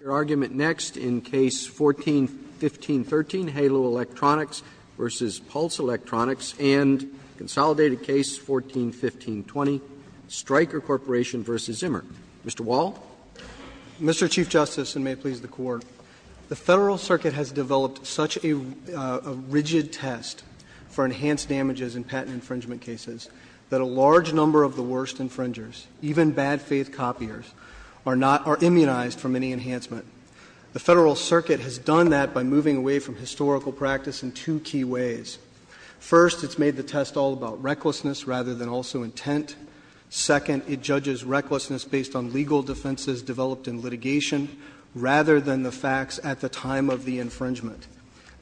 Your argument next in Case 14-1513, Halo Electronics v. Pulse Electronics and Consolidated Case 14-1520, Stryker Corporation v. Zimmer. Mr. Wall? Mr. Chief Justice, and may it please the Court, the Federal Circuit has developed such a rigid test for enhanced damages in patent infringement cases that a large amount of money is spent on it. The Federal Circuit has done that by moving away from historical practice in two key ways. First, it's made the test all about recklessness rather than also intent. Second, it judges recklessness based on legal defenses developed in litigation rather than the facts at the time of the infringement.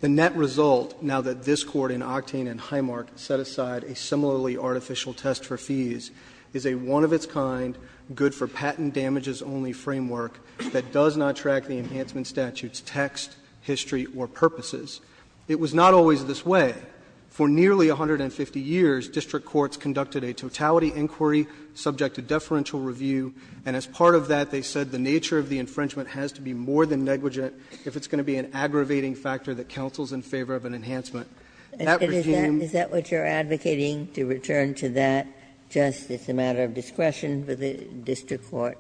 The net result, now that this Court in Octane v. Highmark set aside a similarly framework that does not track the enhancement statute's text, history, or purposes. It was not always this way. For nearly 150 years, district courts conducted a totality inquiry subject to deferential review, and as part of that they said the nature of the infringement has to be more than negligent if it's going to be an aggravating factor that counsels in favor of an enhancement. That regime ---- Ginsburg. Is that what you're advocating, to return to that, just it's a matter of discretion for the district court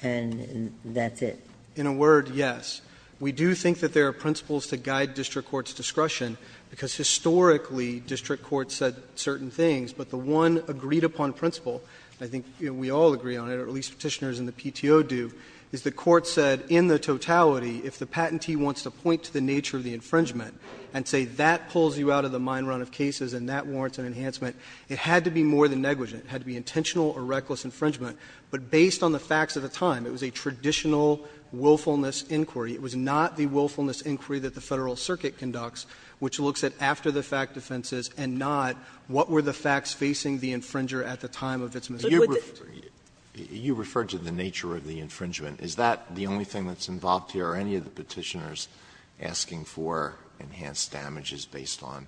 and that's it? In a word, yes. We do think that there are principles to guide district court's discretion, because historically district courts said certain things, but the one agreed-upon principle, and I think we all agree on it, or at least Petitioners and the PTO do, is the court said in the totality, if the patentee wants to point to the nature of the infringement and say that pulls you out of the mine run of cases and that warrants an enhancement, it had to be more than negligent. It had to be intentional or reckless infringement, but based on the facts of the time, it was a traditional willfulness inquiry. It was not the willfulness inquiry that the Federal Circuit conducts, which looks at after-the-fact offenses and not what were the facts facing the infringer at the time of its misdemeanor. Alito, you referred to the nature of the infringement. Is that the only thing that's involved here, or any of the Petitioners asking for enhanced damages based on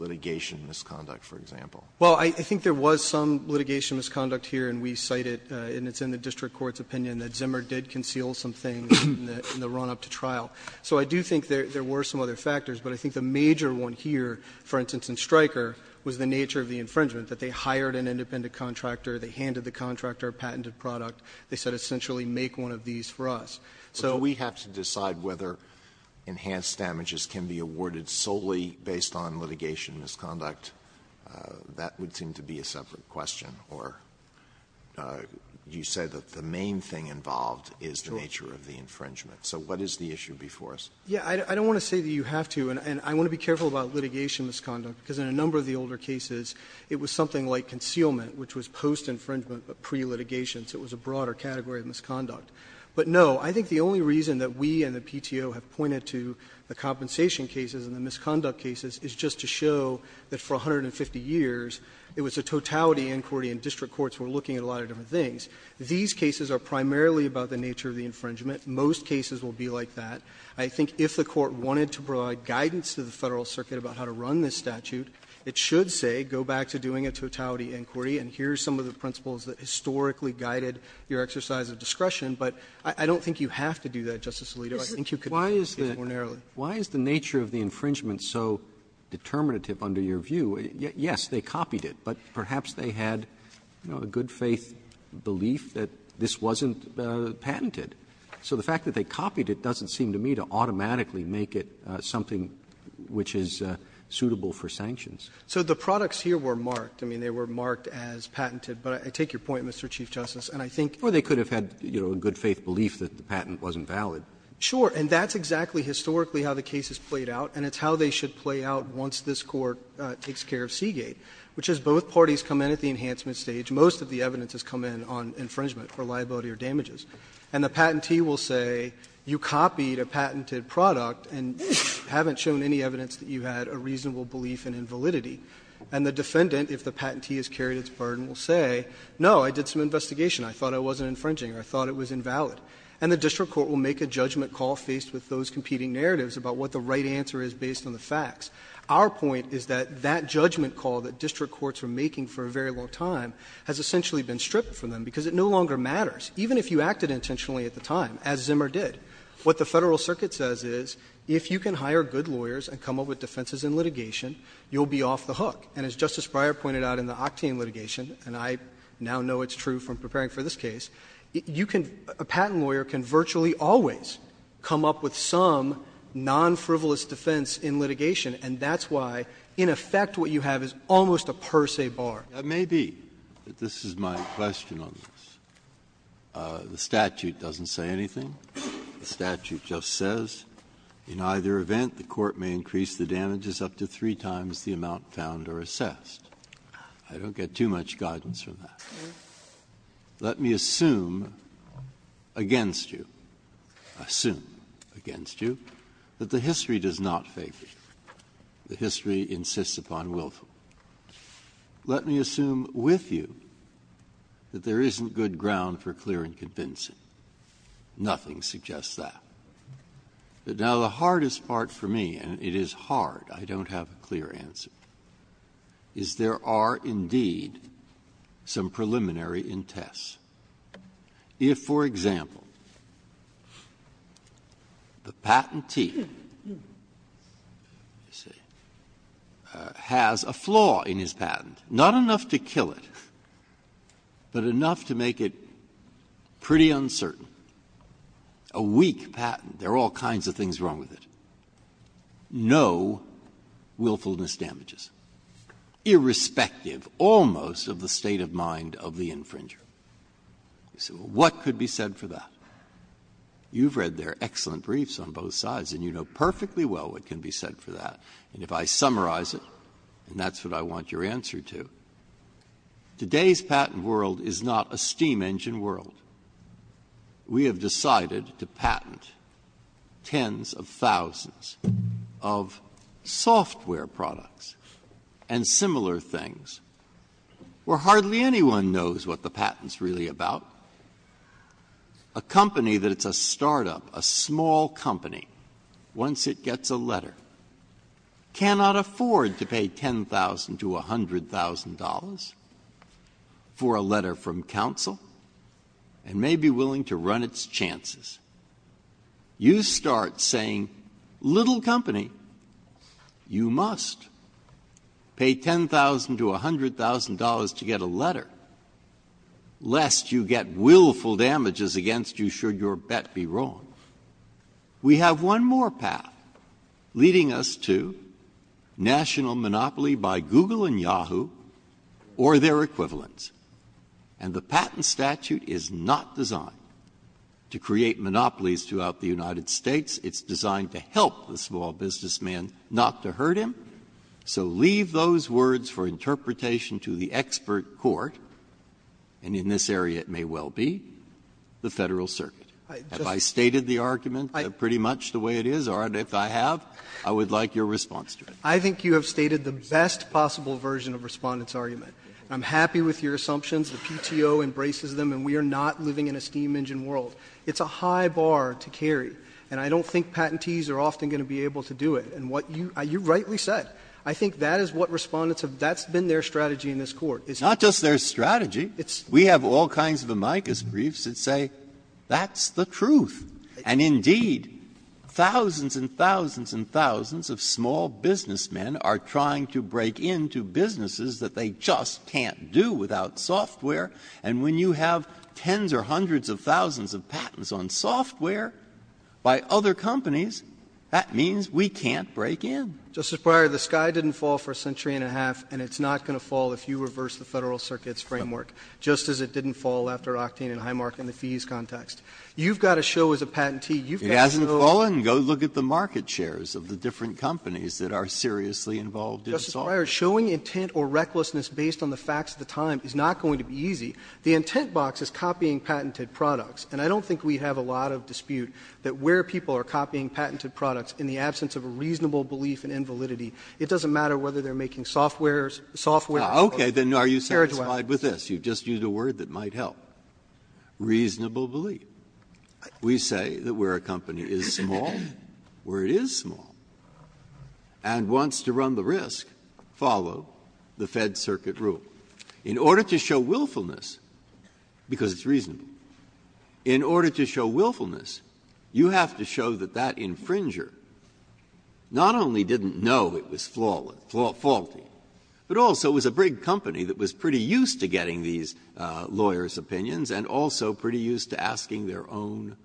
litigation misconduct, for example? Well, I think there was some litigation misconduct here, and we cite it, and it's in the district court's opinion, that Zimmer did conceal some things in the run-up to trial. So I do think there were some other factors, but I think the major one here, for instance, in Stryker, was the nature of the infringement, that they hired an independent contractor, they handed the contractor a patented product, they said essentially make one of these for us. So we have to decide whether enhanced damages can be awarded solely based on litigation misconduct. That would seem to be a separate question, or you say that the main thing involved is the nature of the infringement. So what is the issue before us? Yeah. I don't want to say that you have to, and I want to be careful about litigation misconduct, because in a number of the older cases, it was something like concealment, which was post-infringement, but pre-litigation. So it was a broader category of misconduct. But, no, I think the only reason that we and the PTO have pointed to the compensation cases and the misconduct cases is just to show that for 150 years, it was a totality inquiry, and district courts were looking at a lot of different things. These cases are primarily about the nature of the infringement. Most cases will be like that. I think if the Court wanted to provide guidance to the Federal Circuit about how to run this statute, it should say go back to doing a totality inquiry, and here are some of the principles that historically guided your exercise of discretion. But I don't think you have to do that, Justice Alito. I think you could do it ordinarily. Roberts, why is the nature of the infringement so determinative under your view? Yes, they copied it, but perhaps they had, you know, a good-faith belief that this wasn't patented. So the fact that they copied it doesn't seem to me to automatically make it something which is suitable for sanctions. So the products here were marked. I mean, they were marked as patented. But I take your point, Mr. Chief Justice, and I think Or they could have had, you know, a good-faith belief that the patent wasn't valid. Sure. And that's exactly historically how the case is played out, and it's how they should play out once this Court takes care of Seagate, which is both parties come in at the enhancement stage. Most of the evidence has come in on infringement or liability or damages. And the patentee will say you copied a patented product and haven't shown any evidence that you had a reasonable belief in invalidity. And the defendant, if the patentee has carried its burden, will say, no, I did some investigation. I thought it wasn't infringing. I thought it was invalid. And the district court will make a judgment call faced with those competing narratives about what the right answer is based on the facts. Our point is that that judgment call that district courts are making for a very long time has essentially been stripped from them because it no longer matters, even if you acted intentionally at the time, as Zimmer did. What the Federal Circuit says is, if you can hire good lawyers and come up with defenses in litigation, you'll be off the hook. And as Justice Breyer pointed out in the Octane litigation, and I now know it's true from preparing for this case, you can — a patent lawyer can virtually always come up with some non-frivolous defense in litigation, and that's why, in effect, what you have is almost a per se bar. Breyer, that may be, but this is my question on this. The statute doesn't say anything. The statute just says, in either event, the court may increase the damages up to three times the amount found or assessed. I don't get too much guidance from that. Let me assume against you, assume against you, that the history does not favor you. The history insists upon willful. Let me assume with you that there isn't good ground for clearing convincing. Nothing suggests that. But now the hardest part for me, and it is hard, I don't have a clear answer, is there are indeed some preliminary intests. If, for example, the patentee has a flaw in his patent, not enough to kill it, but enough to make it pretty uncertain, a weak patent, there are all kinds of things wrong with it, no willfulness damages, irrespective almost of the state of mind of the infringer. So what could be said for that? You've read their excellent briefs on both sides, and you know perfectly well what can be said for that. And if I summarize it, and that's what I want your answer to, today's patent world is not a steam engine world. We have decided to patent tens of thousands of software products and similar things, where hardly anyone knows what the patent's really about. A company that's a start-up, a small company, once it gets a letter, cannot afford to pay $10,000 to $100,000 for a letter from counsel and may be willing to run its chances. You start saying, little company, you must pay $10,000 to $100,000 to get a letter, lest you get willful damages against you should your bet be wrong. We have one more path leading us to national monopoly by Google and Yahoo or their monopolies throughout the United States. It's designed to help the small businessman not to hurt him. So leave those words for interpretation to the expert court, and in this area it may well be the Federal Circuit. Have I stated the argument pretty much the way it is, or if I have, I would like your response to it. I think you have stated the best possible version of Respondent's argument. I'm happy with your assumptions. The PTO embraces them, and we are not living in a steam engine world. It's a high bar to carry, and I don't think patentees are often going to be able to do it. And what you rightly said, I think that is what Respondent's have been their strategy in this Court. Breyer's not just their strategy, we have all kinds of amicus briefs that say that's the truth. And indeed, thousands and thousands and thousands of small businessmen are trying to break into businesses that they just can't do without software, and when you have hundreds of thousands of patents on software by other companies, that means we can't break in. Justice Breyer, the sky didn't fall for a century and a half, and it's not going to fall if you reverse the Federal Circuit's framework, just as it didn't fall after Octane and Highmark in the fees context. You've got to show as a patentee you've got to show the market shares of the different companies that are seriously involved in software. Justice Breyer, showing intent or recklessness based on the facts of the time is not going to be easy. The intent box is copying patented products, and I don't think we have a lot of dispute that where people are copying patented products in the absence of a reasonable belief in invalidity, it doesn't matter whether they're making software or software or carriageway. Breyer's just used a word that might help, reasonable belief. We say that where a company is small, where it is small, and wants to run the risk, follow the Fed Circuit rule. In order to show willfulness, because it's reasonable, in order to show willfulness, you have to show that that infringer not only didn't know it was flawed, faulty, but also was a big company that was pretty used to getting these lawyers' opinions and also pretty used to asking their own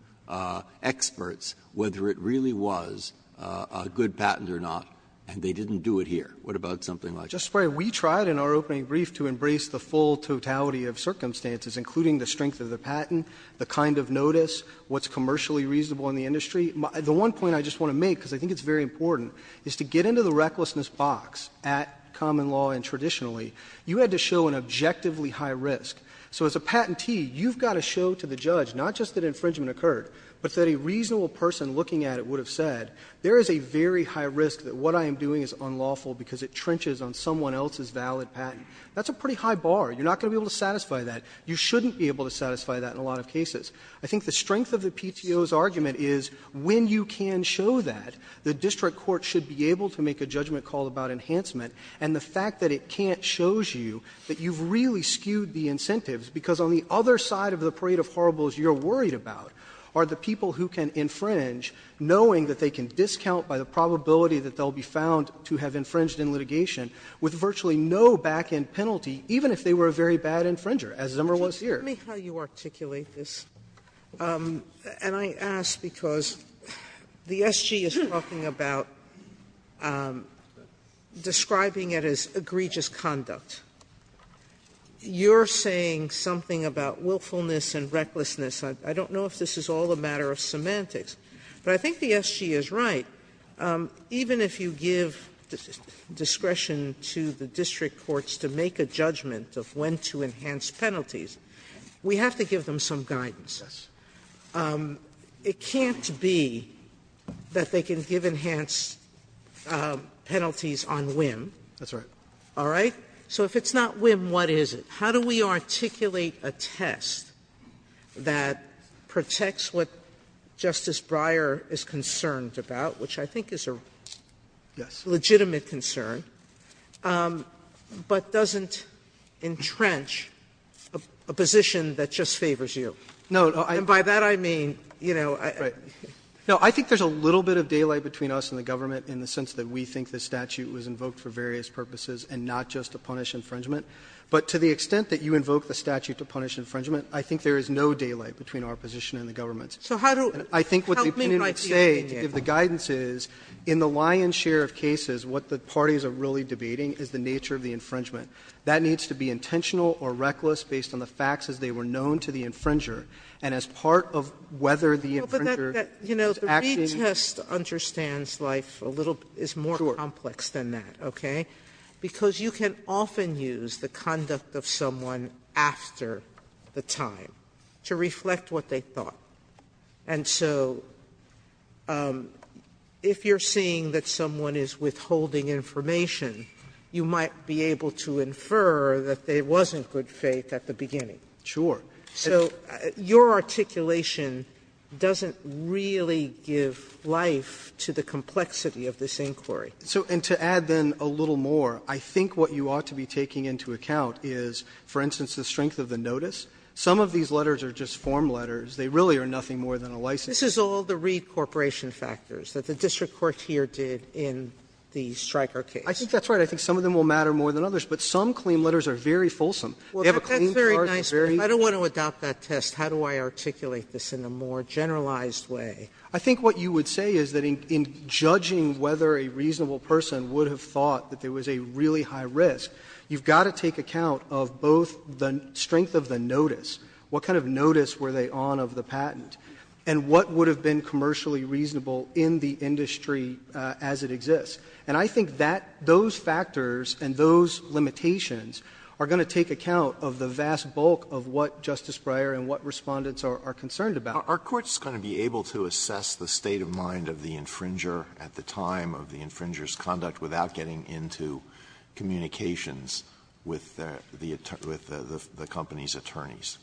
experts whether it really was a good patent or not, and they didn't do it here. What about something like that? We tried in our opening brief to embrace the full totality of circumstances, including the strength of the patent, the kind of notice, what's commercially reasonable in the industry. The one point I just want to make, because I think it's very important, is to get into the recklessness box at common law and traditionally, you had to show an objectively high risk. So as a patentee, you've got to show to the judge not just that infringement occurred, but that a reasonable person looking at it would have said, there is a very high risk that what I am doing is unlawful because it trenches on someone else's valid patent. That's a pretty high bar. You're not going to be able to satisfy that. You shouldn't be able to satisfy that in a lot of cases. I think the strength of the PTO's argument is when you can show that, the district court should be able to make a judgment call about enhancement, and the fact that it can't shows you that you've really skewed the incentives, because on the other side of the parade of horribles you're worried about are the people who can infringe, knowing that they can discount by the probability that they'll be found to have infringed in litigation, with virtually no back-end penalty, even if they were a very bad infringer, as Zimmer was here. Sotomayor, and I ask because the SG is talking about describing it as egregious conduct. You're saying something about willfulness and recklessness. I don't know if this is all a matter of semantics. But I think the SG is right. Even if you give discretion to the district courts to make a judgment of when to enhance penalties, we have to give them some guidance. It can't be that they can give enhanced penalties on whim. All right? So if it's not whim, what is it? Sotomayor, how do we articulate a test that protects what Justice Breyer is concerned about, which I think is a legitimate concern, but doesn't entrench a position that just favors you? And by that I mean, you know, I think there's a little bit of daylight between us and the government in the sense that we think this statute was invoked for various purposes and not just to punish infringement. But to the extent that you invoke the statute to punish infringement, I think there is no daylight between our position and the government's. So how do you help me write the opinion? I think what the opinion would say, if the guidance is, in the lion's share of cases, what the parties are really debating is the nature of the infringement. That needs to be intentional or reckless based on the facts as they were known to the infringer, and as part of whether the infringer is actually ‑‑ Well, but that, you know, the retest understands life a little ‑‑ Sure. It's more complex than that. Okay? Because you can often use the conduct of someone after the time to reflect what they thought. And so if you're seeing that someone is withholding information, you might be able to infer that there wasn't good faith at the beginning. Sure. So your articulation doesn't really give life to the complexity of this inquiry. So and to add then a little more, I think what you ought to be taking into account is, for instance, the strength of the notice. Some of these letters are just form letters. They really are nothing more than a license. This is all the Reed Corporation factors that the district court here did in the Stryker case. I think that's right. I think some of them will matter more than others. But some claim letters are very fulsome. They have a clean charge. That's very nice, but I don't want to adopt that test. How do I articulate this in a more generalized way? I think what you would say is that in judging whether a reasonable person would have thought that there was a really high risk, you've got to take account of both the strength of the notice, what kind of notice were they on of the patent, and what would have been commercially reasonable in the industry as it exists. And I think that those factors and those limitations are going to take account of the vast bulk of what Justice Breyer and what Respondents are concerned about. Alito, are courts going to be able to assess the state of mind of the infringer at the time of the infringer's conduct without getting into communications with the company's attorneys?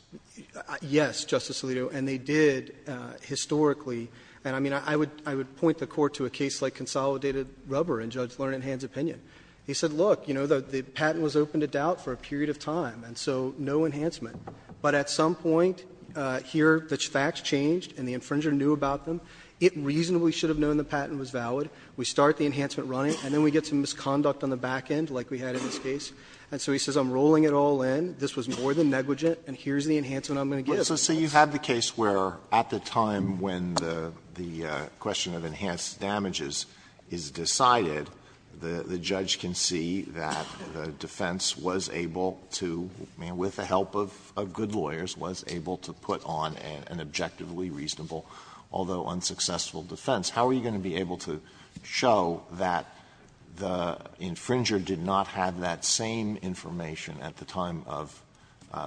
Yes, Justice Alito, and they did historically. And I mean, I would point the Court to a case like Consolidated Rubber in Judge Lernan-Hann's opinion. He said, look, you know, the patent was open to doubt for a period of time, and so no enhancement. But at some point, here the facts changed and the infringer knew about them, it reasonably should have known the patent was valid, we start the enhancement running, and then we get some misconduct on the back end like we had in this case, and so he says, I'm rolling it all in, this was more than negligent, and here's the enhancement I'm going to give. Alito, so you have the case where at the time when the question of enhanced damages is decided, the judge can see that the defense was able to, with the help of good lawyers, was able to put on an objectively reasonable, although unsuccessful, defense. How are you going to be able to show that the infringer did not have that same information at the time of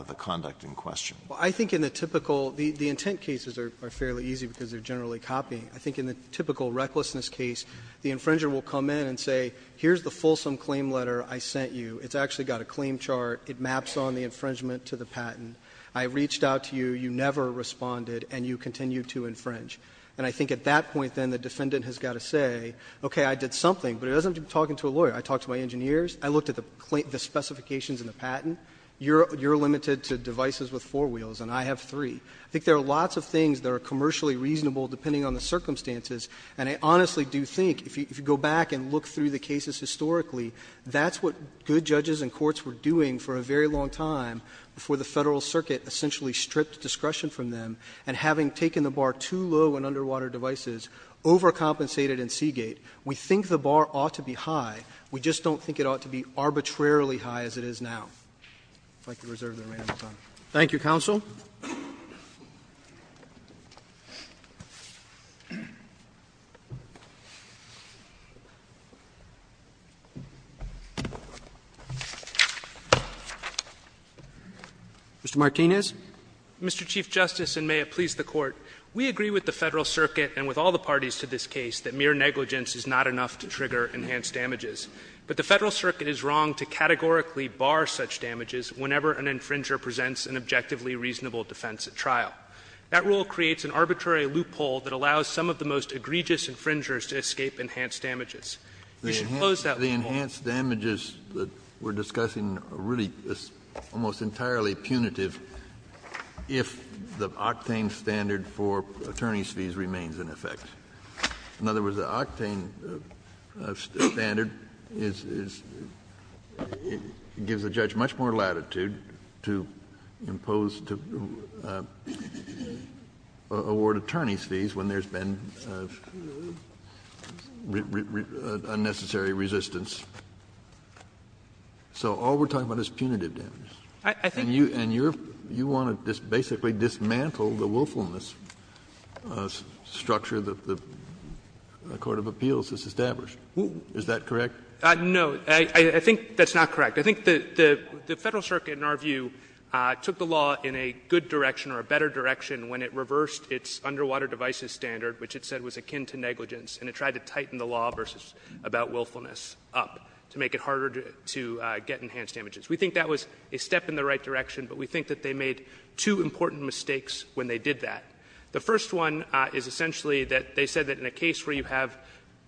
the conduct in question? Well, I think in the typical the intent cases are fairly easy because they're generally copying. I think in the typical recklessness case, the infringer will come in and say, here's the fulsome claim letter I sent you, it's actually got a claim chart, it maps on the infringement to the patent, I reached out to you, you never responded, and you continue to infringe. And I think at that point then the defendant has got to say, okay, I did something, but it doesn't have to be talking to a lawyer. I talked to my engineers, I looked at the specifications in the patent, you're limited to devices with four wheels, and I have three. I think there are lots of things that are commercially reasonable depending on the circumstances, and I honestly do think, if you go back and look through the cases historically, that's what good judges and courts were doing for a very long time before the Federal Circuit essentially stripped discretion from them, and having taken the bar too low on underwater devices, overcompensated in Seagate. We think the bar ought to be high, we just don't think it ought to be arbitrarily high as it is now. I'd like to reserve the remaining time. Roberts. Thank you, counsel. Mr. Martinez. Mr. Chief Justice, and may it please the Court, we agree with the Federal Circuit and with all the parties to this case that mere negligence is not enough to trigger enhanced damages. But the Federal Circuit is wrong to categorically bar such damages whenever an infringer presents an objectively reasonable defense at trial. That rule creates an arbitrary loophole that allows some of the most egregious infringers to escape enhanced damages. We should close that loophole. Kennedy. The enhanced damages that we're discussing are really almost entirely punitive if the octane standard for attorneys' fees remains in effect. In other words, the octane standard is — gives a judge much more latitude to put a penalty imposed to award attorneys' fees when there's been unnecessary resistance. So all we're talking about is punitive damages. And you want to basically dismantle the willfulness structure that the court of appeals has established. Is that correct? No. I think that's not correct. I think the Federal Circuit, in our view, took the law in a good direction or a better direction when it reversed its underwater devices standard, which it said was akin to negligence, and it tried to tighten the law versus — about willfulness up to make it harder to get enhanced damages. We think that was a step in the right direction, but we think that they made two important mistakes when they did that. The first one is essentially that they said that in a case where you have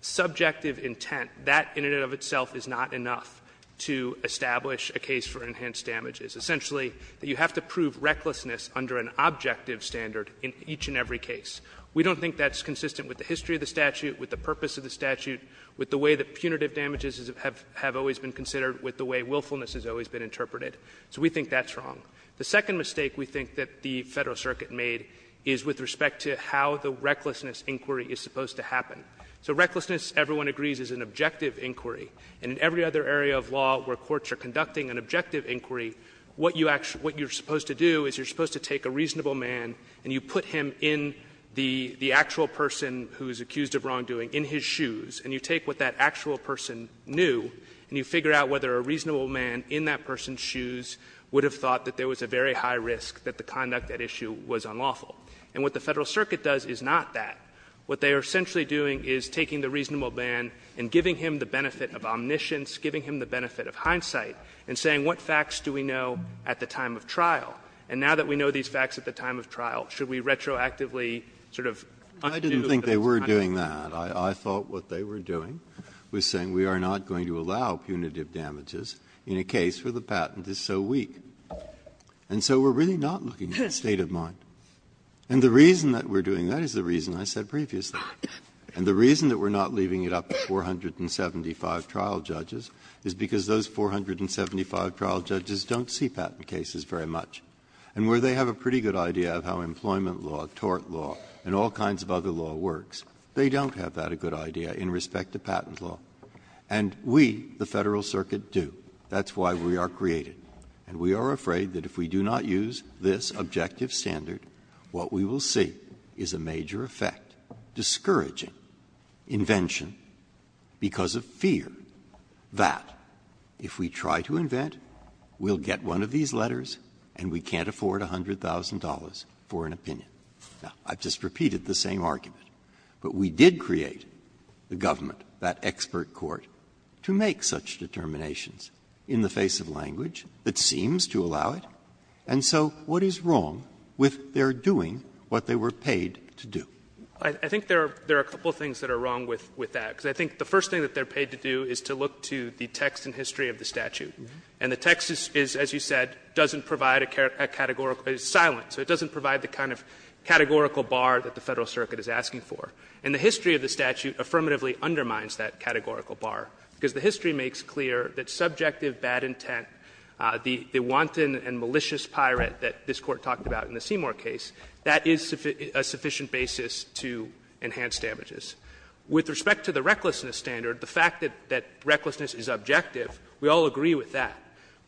subjective intent, that in and of itself is not enough to establish a case for enhanced damages. Essentially, you have to prove recklessness under an objective standard in each and every case. We don't think that's consistent with the history of the statute, with the purpose of the statute, with the way that punitive damages have always been considered, with the way willfulness has always been interpreted. So we think that's wrong. The second mistake we think that the Federal Circuit made is with respect to how the recklessness inquiry is supposed to happen. So recklessness, everyone agrees, is an objective inquiry. And in every other area of law where courts are conducting an objective inquiry, what you're supposed to do is you're supposed to take a reasonable man and you put him in the actual person who is accused of wrongdoing, in his shoes, and you take what that actual person knew, and you figure out whether a reasonable man in that person's shoes would have thought that there was a very high risk that the conduct at issue was unlawful. And what the Federal Circuit does is not that. What they are essentially doing is taking the reasonable man and giving him the benefit of omniscience, giving him the benefit of hindsight, and saying what facts do we know at the time of trial? And now that we know these facts at the time of trial, should we retroactively sort of undo the time of trial? Breyer. Breyer. I didn't think they were doing that. I thought what they were doing was saying we are not going to allow punitive damages in a case where the patent is so weak. And so we're really not looking at the state of mind. And the reason that we're doing that is the reason I said previously. And the reason that we're not leaving it up to 475 trial judges is because those 475 trial judges don't see patent cases very much. And where they have a pretty good idea of how employment law, tort law, and all kinds of other law works, they don't have that a good idea in respect to patent law. And we, the Federal Circuit, do. That's why we are created. And we are afraid that if we do not use this objective standard, what we will see is a major effect discouraging invention because of fear that if we try to invent, we'll get one of these letters and we can't afford $100,000 for an opinion. Now, I've just repeated the same argument. But we did create the government, that expert court, to make such determinations in the face of language that seems to allow it. And so what is wrong with their doing what they were paid to do? I think there are a couple of things that are wrong with that. Because I think the first thing that they're paid to do is to look to the text and history of the statute. And the text is, as you said, doesn't provide a categorical bar. It's silent, so it doesn't provide the kind of categorical bar that the Federal Circuit is asking for. And the history of the statute affirmatively undermines that categorical bar, because the history makes clear that subjective bad intent, the wanton and malicious pirate that this Court talked about in the Seymour case, that is a sufficient basis to enhance damages. With respect to the recklessness standard, the fact that recklessness is objective, we all agree with that.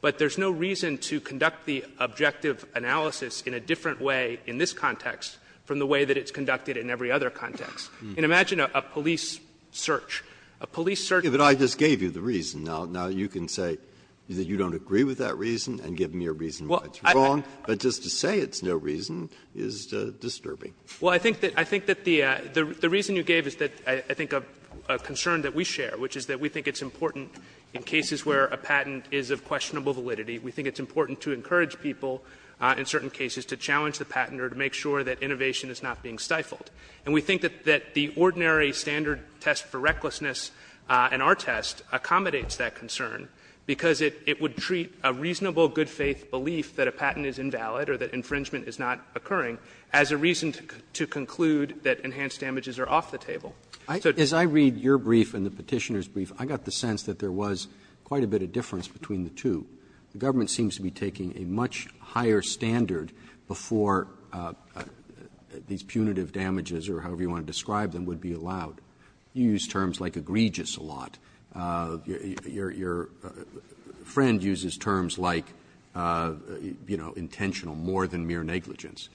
But there's no reason to conduct the objective analysis in a different way in this context from the way that it's conducted in every other context. And imagine a police search. A police search. Breyer. But I just gave you the reason. Now you can say that you don't agree with that reason and give me a reason why it's wrong, but just to say it's no reason is disturbing. Well, I think that the reason you gave is that I think a concern that we share, which is that we think it's important in cases where a patent is of questionable validity, we think it's important to encourage people in certain cases to challenge the patent or to make sure that innovation is not being stifled. And we think that the ordinary standard test for recklessness in our test accommodates that concern because it would treat a reasonable good faith belief that a patent is invalid or that infringement is not occurring as a reason to conclude that enhanced damages are off the table. So it's not a reason to challenge the patent. Roberts. As I read your brief and the Petitioner's brief, I got the sense that there was quite a bit of difference between the two. The government seems to be taking a much higher standard before these punitive damages or however you want to describe them would be allowed. You use terms like egregious a lot. Your friend uses terms like, you know, intentional, more than mere negligence.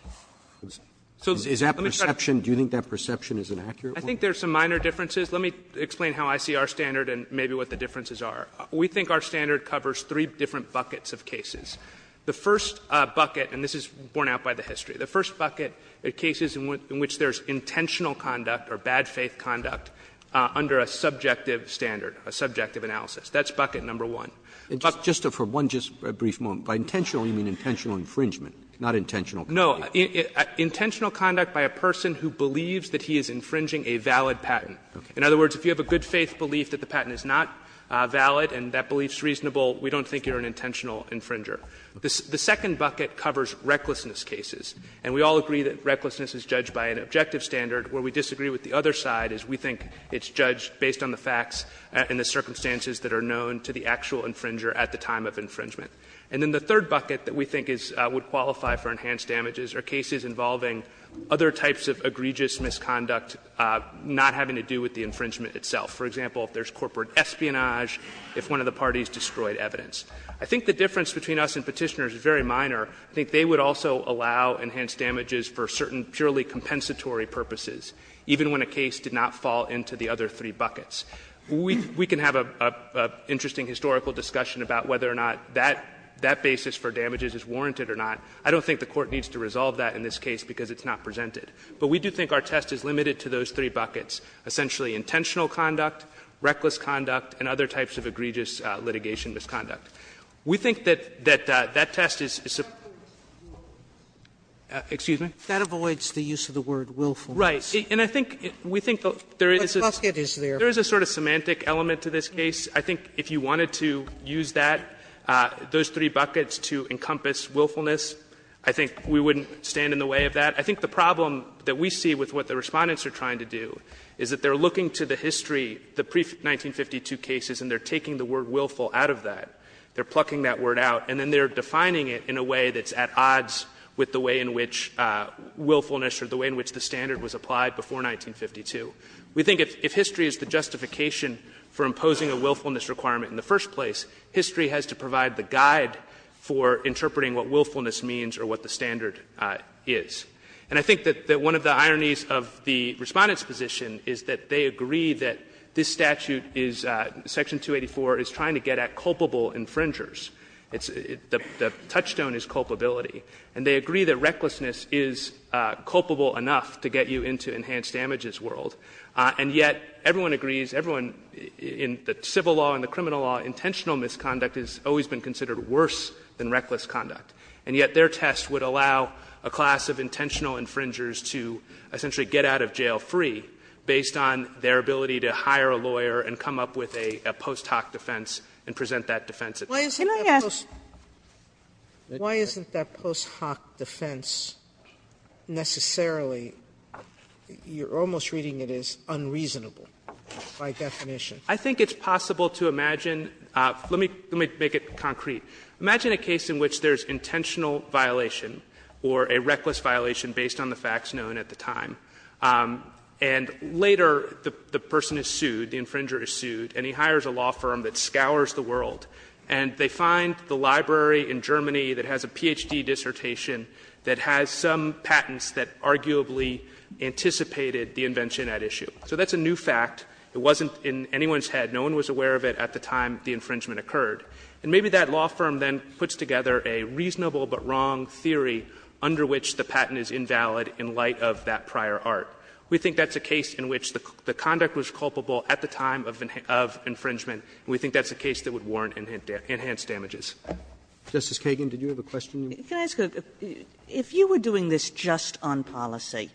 Is that perception, do you think that perception is an accurate one? I think there's some minor differences. Let me explain how I see our standard and maybe what the differences are. We think our standard covers three different buckets of cases. The first bucket, and this is borne out by the history, the first bucket are cases in which there's intentional conduct or bad faith conduct under a subjective standard, a subjective analysis. That's bucket number one. Roberts. Roberts. Just for one brief moment, by intentional you mean intentional infringement, not intentional. No. Intentional conduct by a person who believes that he is infringing a valid patent. In other words, if you have a good faith belief that the patent is not valid and that belief is reasonable, we don't think you're an intentional infringer. The second bucket covers recklessness cases, and we all agree that recklessness is judged by an objective standard, where we disagree with the other side, is we think it's judged based on the facts and the circumstances that are known to the actual infringer at the time of infringement. And then the third bucket that we think would qualify for enhanced damages are cases involving other types of egregious misconduct not having to do with the infringement itself. For example, if there's corporate espionage, if one of the parties destroyed evidence. I think the difference between us and Petitioners is very minor. I think they would also allow enhanced damages for certain purely compensatory purposes, even when a case did not fall into the other three buckets. We can have an interesting historical discussion about whether or not that basis for damages is warranted or not. I don't think the Court needs to resolve that in this case because it's not presented. But we do think our test is limited to those three buckets, essentially intentional conduct, reckless conduct, and other types of egregious litigation misconduct. We think that that test is a Sotomayor, that avoids the use of the word willful. Right. And I think we think there is a sort of semantic element to this case. I think if you wanted to use that, those three buckets to encompass willfulness, I think we wouldn't stand in the way of that. I think the problem that we see with what the Respondents are trying to do is that they're looking to the history, the pre-1952 cases, and they're taking the word willful out of that. They're plucking that word out, and then they're defining it in a way that's at odds with the way in which willfulness or the way in which the standard was applied before 1952. We think if history is the justification for imposing a willfulness requirement in the first place, history has to provide the guide for interpreting what willfulness means or what the standard is. And I think that one of the ironies of the Respondents' position is that they agree that this statute is, Section 284, is trying to get at culpable infringers. The touchstone is culpability. And they agree that recklessness is culpable enough to get you into enhanced damages world. And yet, everyone agrees, everyone in the civil law and the criminal law, intentional misconduct has always been considered worse than reckless conduct, and yet their test would allow a class of intentional infringers to essentially get out of jail for free based on their ability to hire a lawyer and come up with a post hoc defense and present that defense itself. Sotomayor, why isn't that post hoc defense necessarily, you're almost reading it as unreasonable, by definition? I think it's possible to imagine, let me make it concrete, imagine a case in which there's intentional violation or a reckless violation based on the facts known at the time, and later the person is sued, the infringer is sued, and he hires a law firm that scours the world, and they find the library in Germany that has a Ph.D. dissertation that has some patents that arguably anticipated the invention at issue. So that's a new fact. It wasn't in anyone's head. No one was aware of it at the time the infringement occurred. And maybe that law firm then puts together a reasonable but wrong theory under which the patent is invalid in light of that prior art. We think that's a case in which the conduct was culpable at the time of infringement, and we think that's a case that would warrant enhanced damages. Roberts. Justice Kagan, did you have a question? Kagan. If you were doing this just on policy,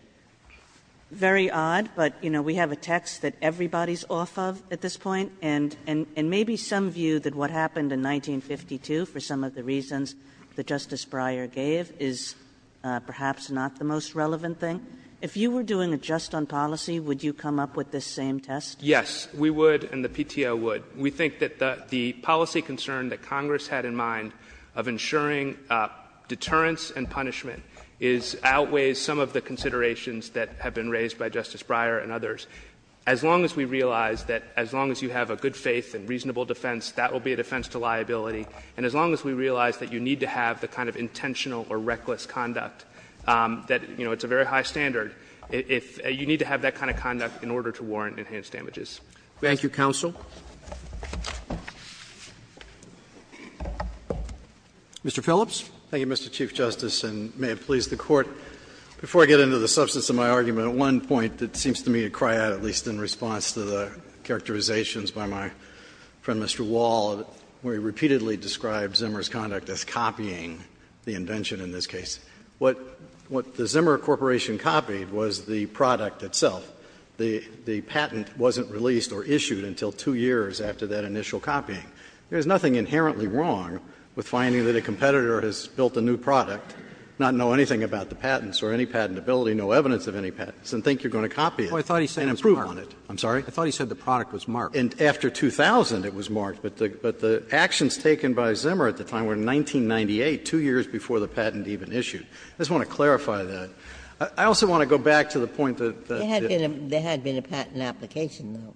very odd, but, you know, we have a text that everybody's off of at this point, and maybe some view that what happened in 1952 for some of the reasons that Justice Breyer gave is perhaps not the most relevant thing. If you were doing it just on policy, would you come up with this same test? Yes, we would, and the PTO would. We think that the policy concern that Congress had in mind of ensuring deterrence and punishment is — outweighs some of the considerations that have been raised by Justice Breyer and others. As long as we realize that as long as you have a good faith and reasonable defense, that will be a defense to liability. And as long as we realize that you need to have the kind of intentional or reckless conduct, that, you know, it's a very high standard, if you need to have that kind of conduct in order to warrant enhanced damages. Thank you, counsel. Mr. Phillips. Thank you, Mr. Chief Justice, and may it please the Court. Before I get into the substance of my argument, one point that seems to me to cry out, at least in response to the characterizations by my friend Mr. Wall, where you repeatedly describe Zimmer's conduct as copying the invention in this case. What the Zimmer Corporation copied was the product itself. The patent wasn't released or issued until two years after that initial copying. There is nothing inherently wrong with finding that a competitor has built a new product, not know anything about the patents or any patentability, no evidence of any patents, and think you're going to copy it and improve on it. I'm sorry? I thought he said the product was marked. And after 2000 it was marked, but the actions taken by Zimmer at the time were in 1998, two years before the patent even issued. I just want to clarify that. I also want to go back to the point that there had been a patent application, though.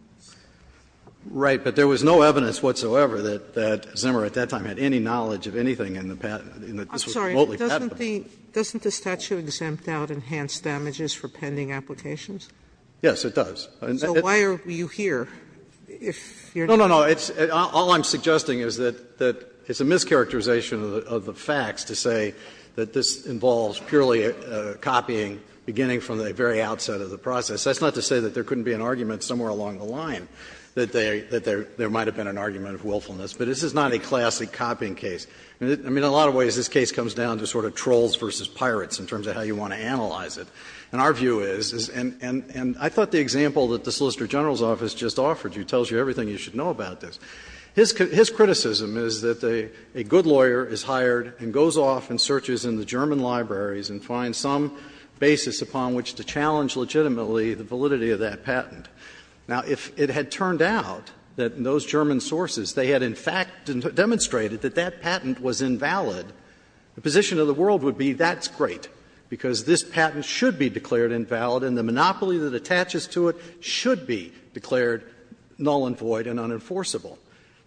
Right. But there was no evidence whatsoever that Zimmer at that time had any knowledge of anything in the patent. I'm sorry, doesn't the statute exempt out enhanced damages for pending applications? Yes, it does. So why are you here? No, no, no. All I'm suggesting is that it's a mischaracterization of the facts to say that this involves purely copying, beginning from the very outset of the process. That's not to say that there couldn't be an argument somewhere along the line that there might have been an argument of willfulness. But this is not a classic copying case. I mean, in a lot of ways, this case comes down to sort of trolls versus pirates in terms of how you want to analyze it. And I think that's what the Court of Appeals has just offered you, tells you everything you should know about this. His criticism is that a good lawyer is hired and goes off and searches in the German libraries and finds some basis upon which to challenge legitimately the validity of that patent. Now, if it had turned out that those German sources, they had in fact demonstrated that that patent was invalid, the position of the world would be that's great, because this patent should be declared invalid and the monopoly that attaches to it should be declared null and void and unenforceable.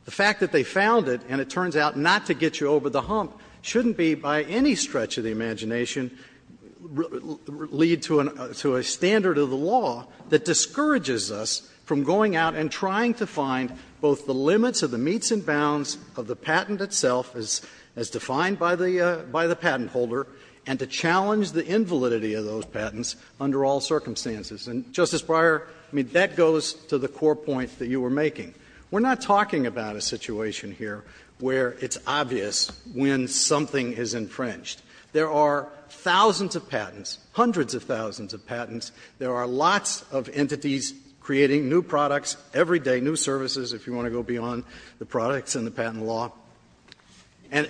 The fact that they found it and it turns out not to get you over the hump shouldn't be by any stretch of the imagination lead to a standard of the law that discourages us from going out and trying to find both the limits of the meets and bounds of the patent itself, as defined by the patent holder, and to challenge the invalidity of those patents under all circumstances. And, Justice Breyer, I mean, that goes to the core point that you were making. We're not talking about a situation here where it's obvious when something is infringed. There are thousands of patents, hundreds of thousands of patents. There are lots of entities creating new products every day, new services, if you want to go beyond the products and the patent law. And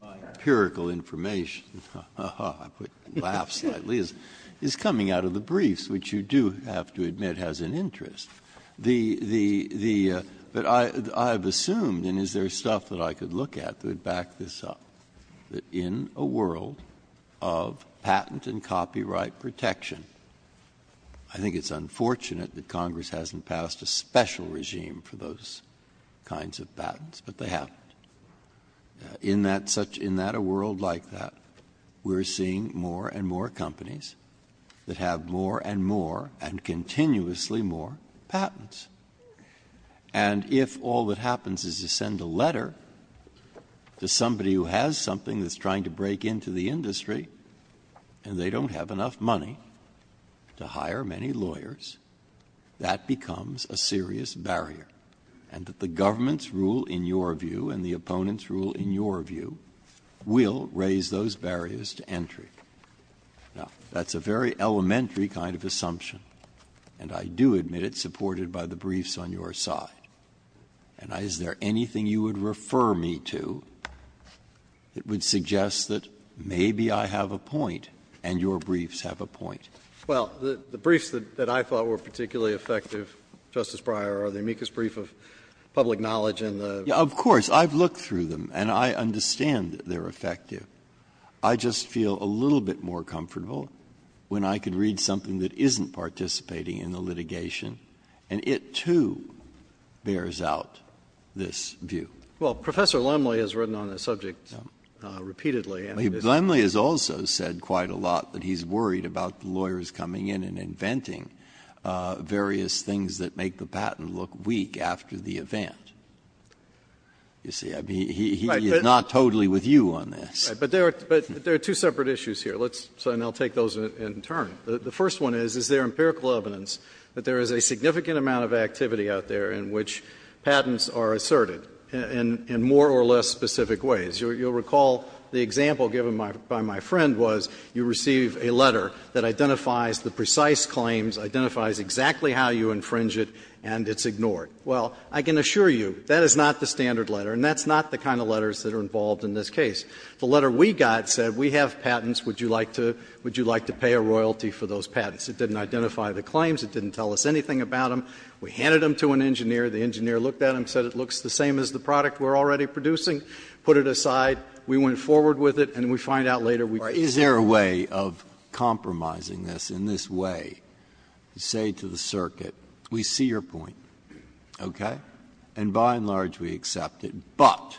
my empirical information, I put laugh slightly, is coming out of the briefs, which you do have to admit has an interest. But I've assumed, and is there stuff that I could look at that would back this up, that in a world of patent and copyright protection, I think it's unfortunate that Congress hasn't passed a special regime for those kinds of patents, but they have. In that such — in that a world like that, we're seeing more and more companies that have more and more, and continuously more, patents. And if all that happens is you send a letter to somebody who has something that's trying to break into the industry, and they don't have enough money to hire many lawyers, that becomes a serious barrier, and that the government's rule, in your view, and the opponent's rule, in your view, will raise those barriers to entry. Now, that's a very elementary kind of assumption, and I do admit it, supported by the briefs on your side. And is there anything you would refer me to that would suggest that maybe I have a point, and your briefs have a point? Well, the briefs that I thought were particularly effective, Justice Breyer, are the amicus brief of public knowledge and the — Of course. I've looked through them, and I understand that they're effective. I just feel a little bit more comfortable when I can read something that isn't participating in the litigation, and it, too, bears out this view. Well, Professor Lemley has written on this subject repeatedly, and he has — He's one of the lawyers coming in and inventing various things that make the patent look weak after the event. You see, I mean, he is not totally with you on this. Right. But there are two separate issues here. Let's — and I'll take those in turn. The first one is, is there empirical evidence that there is a significant amount of activity out there in which patents are asserted in more or less specific ways? You'll recall the example given by my friend was, you receive a letter that identifies the precise claims, identifies exactly how you infringe it, and it's ignored. Well, I can assure you, that is not the standard letter, and that's not the kind of letters that are involved in this case. The letter we got said, we have patents, would you like to — would you like to pay a royalty for those patents? It didn't identify the claims. It didn't tell us anything about them. We handed them to an engineer. The engineer looked at them, said it looks the same as the product we're already producing. Put it aside. We went forward with it, and we find out later we can't do it. Breyer. Is there a way of compromising this in this way, to say to the circuit, we see your point, okay, and by and large we accept it, but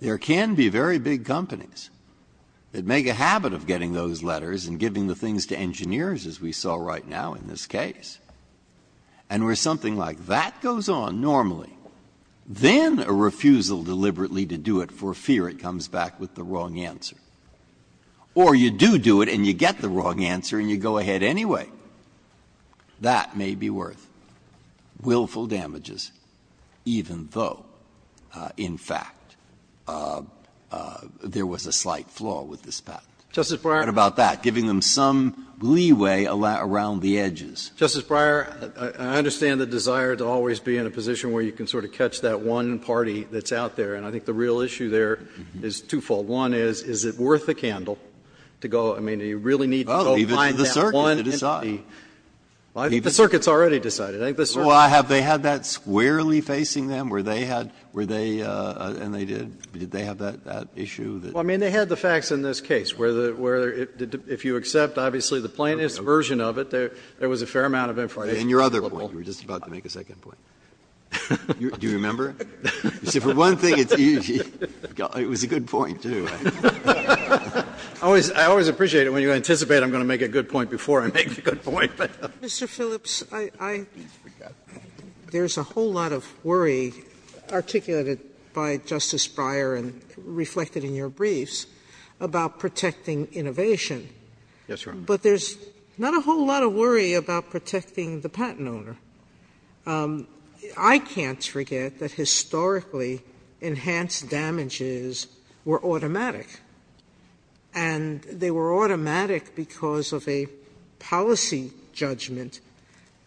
there can be very big companies that make a habit of getting those letters and giving the things to engineers, as we saw right now in this case, and where something like that goes on normally, then a refusal deliberately to do it for fear it comes back with the wrong answer. Or you do do it and you get the wrong answer and you go ahead anyway. That may be worth willful damages, even though, in fact, there was a slight flaw with this patent. Justice Breyer. What about that? Giving them some leeway around the edges. Justice Breyer, I understand the desire to always be in a position where you can sort of catch that one party that's out there, and I think the real issue there is twofold. One is, is it worth the candle to go, I mean, do you really need to go find that one entity? Breyer. Even the circuit has already decided. Well, have they had that squarely facing them? Were they had, were they, and they did. Did they have that issue? The plaintiff's version of it, there was a fair amount of information available. And your other point, you were just about to make a second point. Do you remember? You see, for one thing, it was a good point, too. I always appreciate it when you anticipate I'm going to make a good point before I make a good point. Mr. Phillips, I, there's a whole lot of worry articulated by Justice Breyer and reflected in your briefs about protecting innovation. Yes, Your Honor. But there's not a whole lot of worry about protecting the patent owner. I can't forget that historically enhanced damages were automatic. And they were automatic because of a policy judgment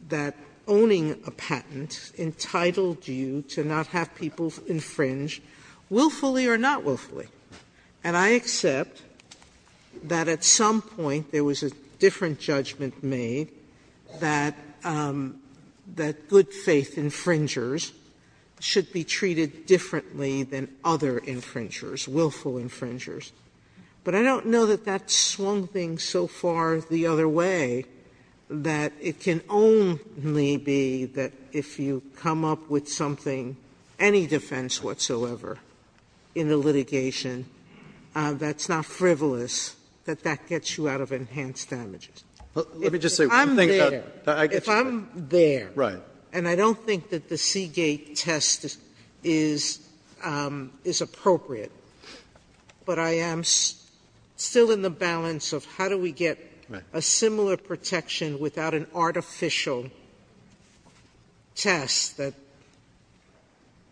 that owning a patent entitled you to not have people infringe, willfully or not willfully. And I accept that at some point there was a different judgment made that good faith infringers should be treated differently than other infringers, willful infringers. But I don't know that that's swung things so far the other way that it can only be that if you come up with something, any defense whatsoever in the litigation that's not frivolous, that that gets you out of enhanced damages. Let me just say- If I'm there- I get you. If I'm there- Right. And I don't think that the Seagate test is appropriate, but I am still in the balance of how do we get a similar protection without an artificial test that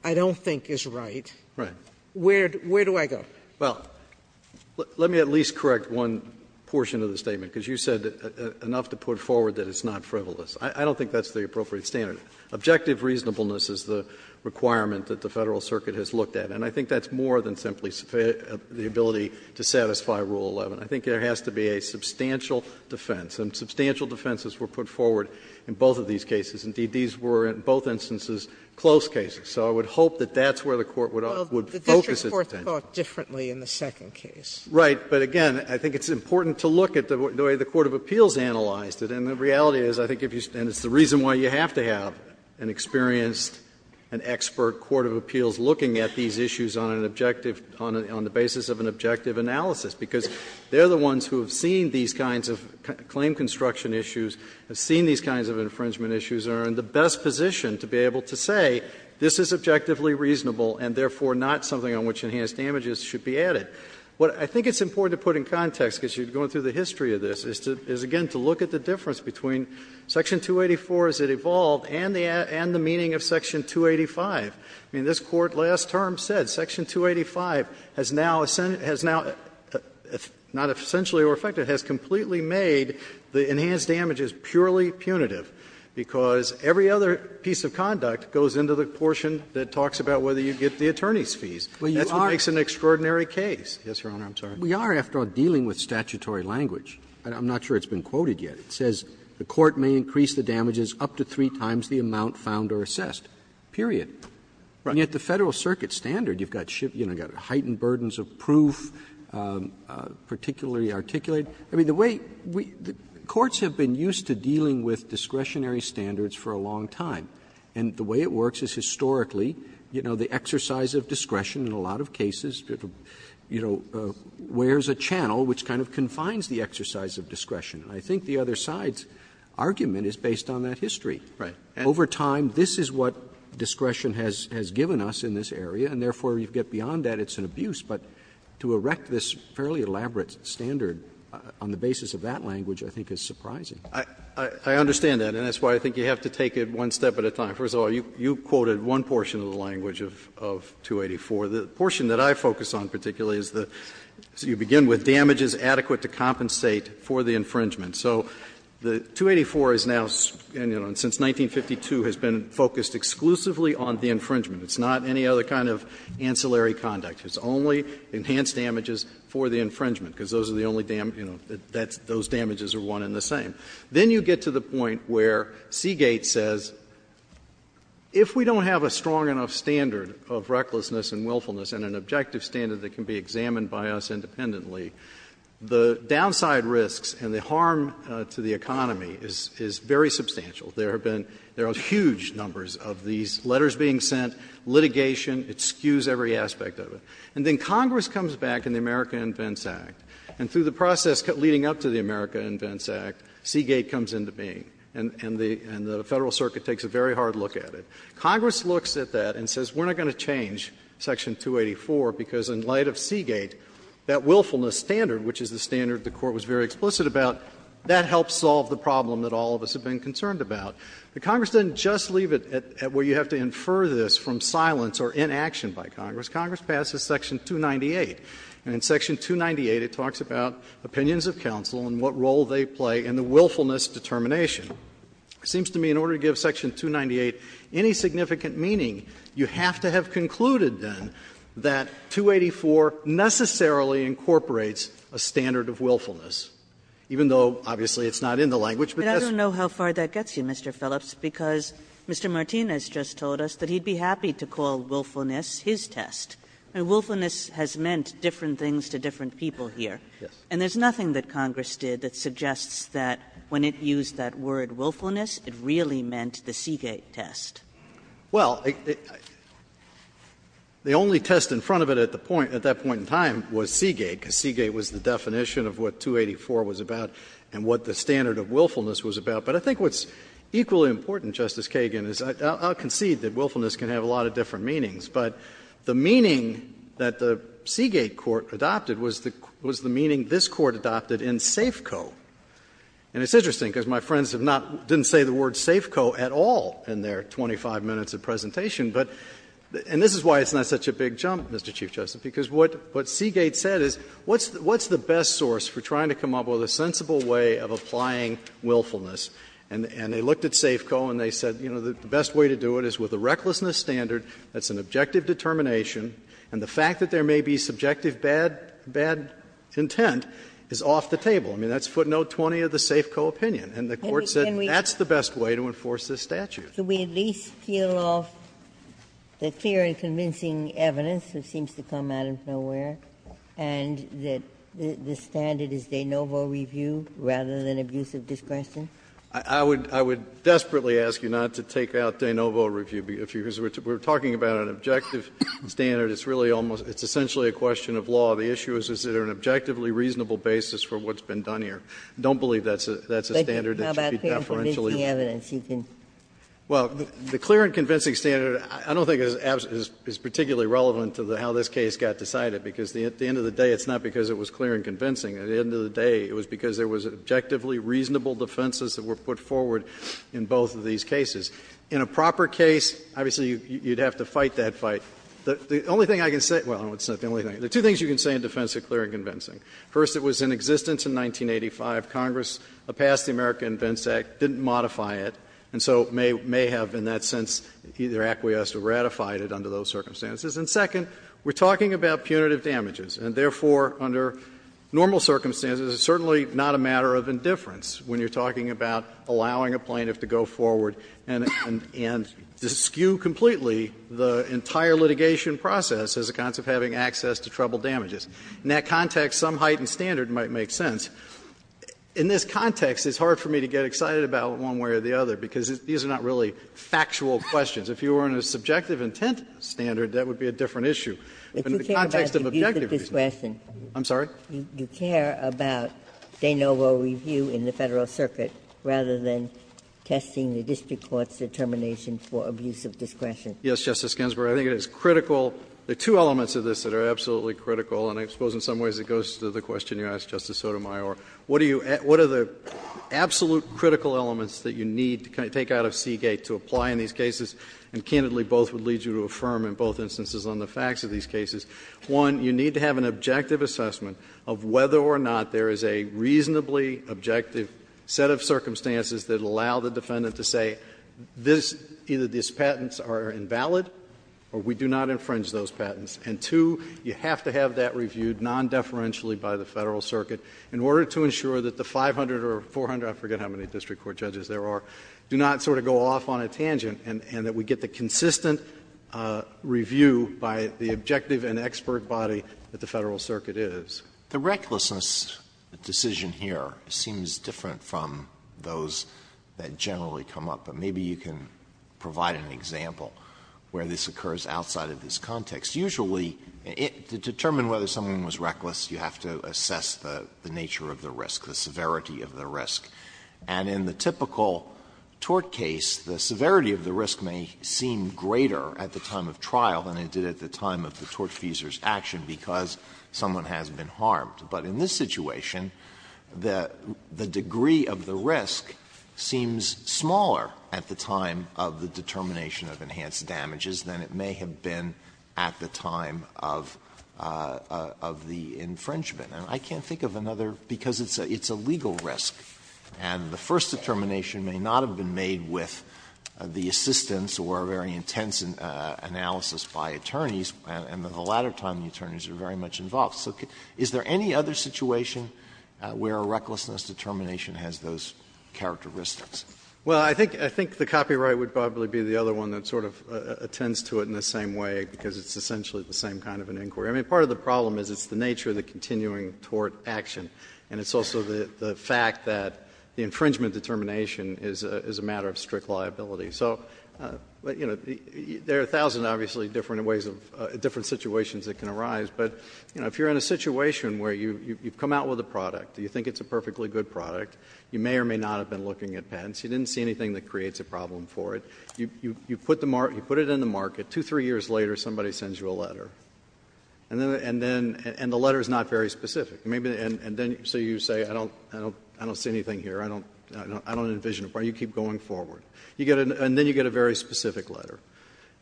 I don't think is right. Right. Where do I go? Well, let me at least correct one portion of the statement, because you said enough to put forward that it's not frivolous. I don't think that's the appropriate standard. Objective reasonableness is the requirement that the Federal Circuit has looked at, and I think that's more than simply the ability to satisfy Rule 11. I think there has to be a substantial defense, and substantial defenses were put forward in both of these cases. Indeed, these were, in both instances, close cases. So I would hope that that's where the Court would focus its attention. Well, the district court thought differently in the second case. Right. But, again, I think it's important to look at the way the court of appeals analyzed it, and the reality is, I think, and it's the reason why you have to have an experienced and expert court of appeals looking at these issues on an objective, on the basis of an objective analysis, because they're the ones who have seen these kinds of claim construction issues, have seen these kinds of infringement issues, and are in the best position to be able to say, this is objectively reasonable and, therefore, not something on which enhanced damages should be added. What I think it's important to put in context, because you're going through the history of this, is, again, to look at the difference between Section 284 as it evolved and the meaning of Section 285. I mean, this Court last term said Section 285 has now, not essentially or effectively, has completely made the enhanced damages purely punitive, because every other piece of conduct goes into the portion that talks about whether you get the attorney's fees. That's what makes an extraordinary case. Yes, Your Honor, I'm sorry. We are, after all, dealing with statutory language. I'm not sure it's been quoted yet. And yet, the Federal Circuit standard, you've got heightened burdens of proof, particularly articulated. I mean, the way courts have been used to dealing with discretionary standards for a long time, and the way it works is, historically, you know, the exercise of discretion in a lot of cases, you know, wears a channel which kind of confines the exercise of discretion. And I think the other side's argument is based on that history. Right. Over time, this is what discretion has given us in this area, and therefore, you get beyond that, it's an abuse. But to erect this fairly elaborate standard on the basis of that language, I think, is surprising. I understand that, and that's why I think you have to take it one step at a time. First of all, you quoted one portion of the language of 284. The portion that I focus on particularly is the you begin with damages adequate to compensate for the infringement. So the 284 is now, you know, since 1952 has been focused exclusively on the infringement. It's not any other kind of ancillary conduct. It's only enhanced damages for the infringement, because those are the only, you know, those damages are one and the same. Then you get to the point where Seagate says, if we don't have a strong enough standard of recklessness and willfulness and an objective standard that can be examined by us independently, the downside risks and the harm to the economy is very substantial. There have been — there are huge numbers of these letters being sent, litigation. It skews every aspect of it. And then Congress comes back in the America Invents Act, and through the process leading up to the America Invents Act, Seagate comes into being. And the Federal Circuit takes a very hard look at it. Congress looks at that and says, we're not going to change section 284, because in light of Seagate, that willfulness standard, which is the standard the Court was very explicit about, that helps solve the problem that all of us have been concerned about. But Congress doesn't just leave it at where you have to infer this from silence or inaction by Congress. Congress passes section 298, and in section 298, it talks about opinions of counsel and what role they play in the willfulness determination. It seems to me in order to give section 298 any significant meaning, you have to have concluded, then, that 284 necessarily incorporates a standard of willfulness, even though obviously it's not in the language, but just— Kagan But I don't know how far that gets you, Mr. Phillips, because Mr. Martinez just told us that he'd be happy to call willfulness his test. I mean, willfulness has meant different things to different people here. Phillips Yes. Kagan And there's nothing that Congress did that suggests that when it used that word willfulness, it really meant the Seagate test. Phillips Well, the only test in front of it at the point, at that point in time, was Seagate, because Seagate was the definition of what 284 was about and what the standard of willfulness was about. But I think what's equally important, Justice Kagan, is I'll concede that willfulness can have a lot of different meanings, but the meaning that the Seagate court adopted was the meaning this Court adopted in Safeco. And it's interesting, because my friends have not—didn't say the word Safeco at all in their 25 minutes of presentation, but — and this is why it's not such a big jump, Mr. Chief Justice, because what Seagate said is, what's the best source for trying to come up with a sensible way of applying willfulness? And they looked at Safeco and they said, you know, the best way to do it is with a recklessness standard, that's an objective determination, and the fact that there may be subjective bad intent is off the table. I mean, that's footnote 20 of the Safeco opinion, and the Court said that's the best way to enforce this statute. Ginsburg. Can we at least peel off the clear and convincing evidence that seems to come out of nowhere, and that the standard is de novo review rather than abusive discretion? I would — I would desperately ask you not to take out de novo review, because we're talking about an objective standard. It's really almost — it's essentially a question of law. The issue is, is there an objectively reasonable basis for what's been done here. I don't believe that's a standard that should be deferentially used. Well, the clear and convincing standard, I don't think, is particularly relevant to how this case got decided, because at the end of the day, it's not because it was clear and convincing. At the end of the day, it was because there was objectively reasonable defenses that were put forward in both of these cases. In a proper case, obviously, you'd have to fight that fight. The only thing I can say — well, it's not the only thing. There are two things you can say in defense of clear and convincing. First, it was in existence in 1985. Congress passed the American Invents Act, didn't modify it, and so may have, in that sense, either acquiesced or ratified it under those circumstances. And second, we're talking about punitive damages, and therefore, under normal circumstances, it's certainly not a matter of indifference when you're talking about allowing a plaintiff to go forward and skew completely the entire litigation process as a consequence of having access to troubled damages. In that context, some heightened standard might make sense. In this context, it's hard for me to get excited about one way or the other, because these are not really factual questions. If you were on a subjective intent standard, that would be a different issue. But in the context of objective reasons… Ginsburg. I'm sorry? Ginsburg. You care about de novo review in the Federal Circuit rather than testing the district court's determination for abuse of discretion. Yes, Justice Ginsburg. I think it is critical. There are two elements of this that are absolutely critical, and I suppose in some ways it goes to the question you asked, Justice Sotomayor. What are the absolute critical elements that you need to take out of Seagate to apply in these cases, and candidly, both would lead you to affirm in both instances on the facts of these cases. One, you need to have an objective assessment of whether or not there is a reasonably objective set of circumstances that allow the defendant to say this, either these And, two, you have to have that reviewed non-deferentially by the Federal Circuit in order to ensure that the 500 or 400, I forget how many district court judges there are, do not sort of go off on a tangent, and that we get the consistent review by the objective and expert body that the Federal Circuit is. The recklessness decision here seems different from those that generally come up. And maybe you can provide an example where this occurs outside of this context. Usually, to determine whether someone was reckless, you have to assess the nature of the risk, the severity of the risk. And in the typical tort case, the severity of the risk may seem greater at the time of trial than it did at the time of the tortfeasor's action because someone has been harmed. But in this situation, the degree of the risk seems smaller at the time of the determination of enhanced damages than it may have been at the time of the infringement. And I can't think of another, because it's a legal risk, and the first determination may not have been made with the assistance or a very intense analysis by attorneys, and in the latter time the attorneys are very much involved. So is there any other situation where a recklessness determination has those characteristics? Well, I think the copyright would probably be the other one that sort of attends to it in the same way, because it's essentially the same kind of an inquiry. I mean, part of the problem is it's the nature of the continuing tort action, and it's also the fact that the infringement determination is a matter of strict liability. So, you know, there are a thousand, obviously, different ways of — different You're in a situation where you've come out with a product, you think it's a perfectly good product, you may or may not have been looking at patents, you didn't see anything that creates a problem for it, you put it in the market, two, three years later somebody sends you a letter, and the letter is not very specific. And then so you say, I don't see anything here, I don't envision a problem, you keep going forward. And then you get a very specific letter,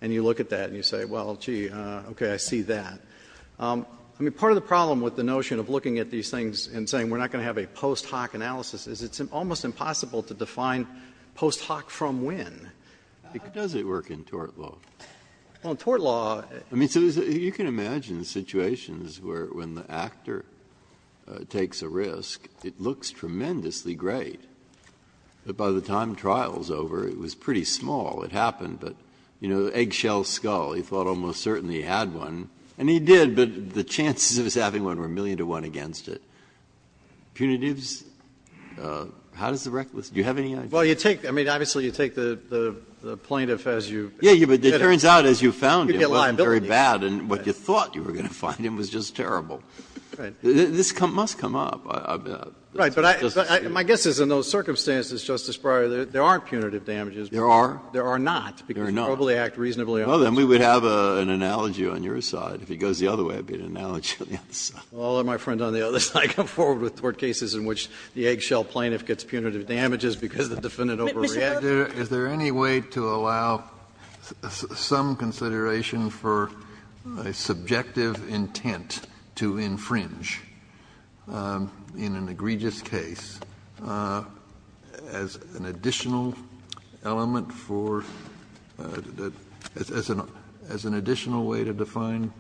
and you look at that and you say, well, gee, okay, I see that. I mean, part of the problem with the notion of looking at these things and saying we're not going to have a post hoc analysis is it's almost impossible to define post hoc from when. Breyer. How does it work in tort law? Well, in tort law, I mean, so you can imagine situations where, when the actor takes a risk, it looks tremendously great, but by the time trial's over, it was pretty small. It happened, but, you know, eggshell skull, he thought almost certainly he had one, and he did, but the chances of his having one were a million to one against it. Punitives, how does the reckless, do you have any idea? Well, you take, I mean, obviously you take the plaintiff as you. Yeah, but it turns out as you found him, it wasn't very bad, and what you thought you were going to find him was just terrible. This must come up. Right, but my guess is in those circumstances, Justice Breyer, there aren't punitive damages. There are. There are not. There are not. Because you probably act reasonably honestly. Well, then we would have an analogy on your side. If it goes the other way, it would be an analogy on the other side. Well, my friend, on the other side, come forward with tort cases in which the eggshell plaintiff gets punitive damages because the defendant overreacted. Is there any way to allow some consideration for a subjective intent to infringe in an egregious case as an additional element for, as an additional way to define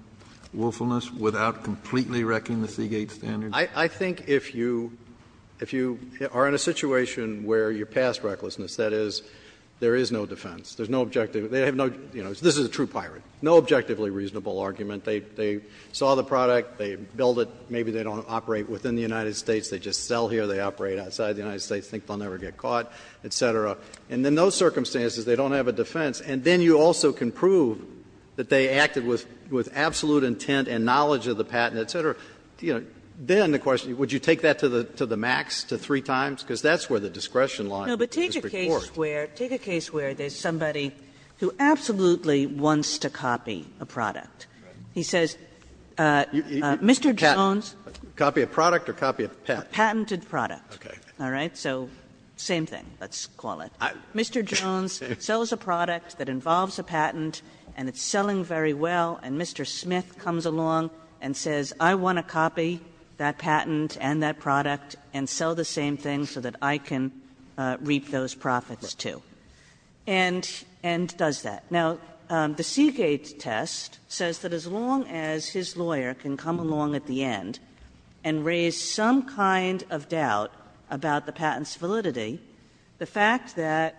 willfulness without completely wrecking the Seagate standard? I think if you are in a situation where you pass recklessness, that is, there is no defense, there is no objective, this is a true pirate, no objectively reasonable argument. They saw the product, they build it, maybe they don't operate within the United States, they just sell here, they operate outside the United States, think they will never get caught, et cetera. And in those circumstances, they don't have a defense. And then you also can prove that they acted with absolute intent and knowledge of the patent, et cetera. Then the question, would you take that to the max, to three times? Because that's where the discretion line is. He says, Mr. Jones. Roberts Copy of product or copy of patent? A patented product. All right. So same thing, let's call it. Mr. Jones sells a product that involves a patent and it's selling very well, and Mr. Smith comes along and says, I want to copy that patent and that product and sell the same thing so that I can reap those profits, too, and does that. Now, the Seagate test says that as long as his lawyer can come along at the end and raise some kind of doubt about the patent's validity, the fact that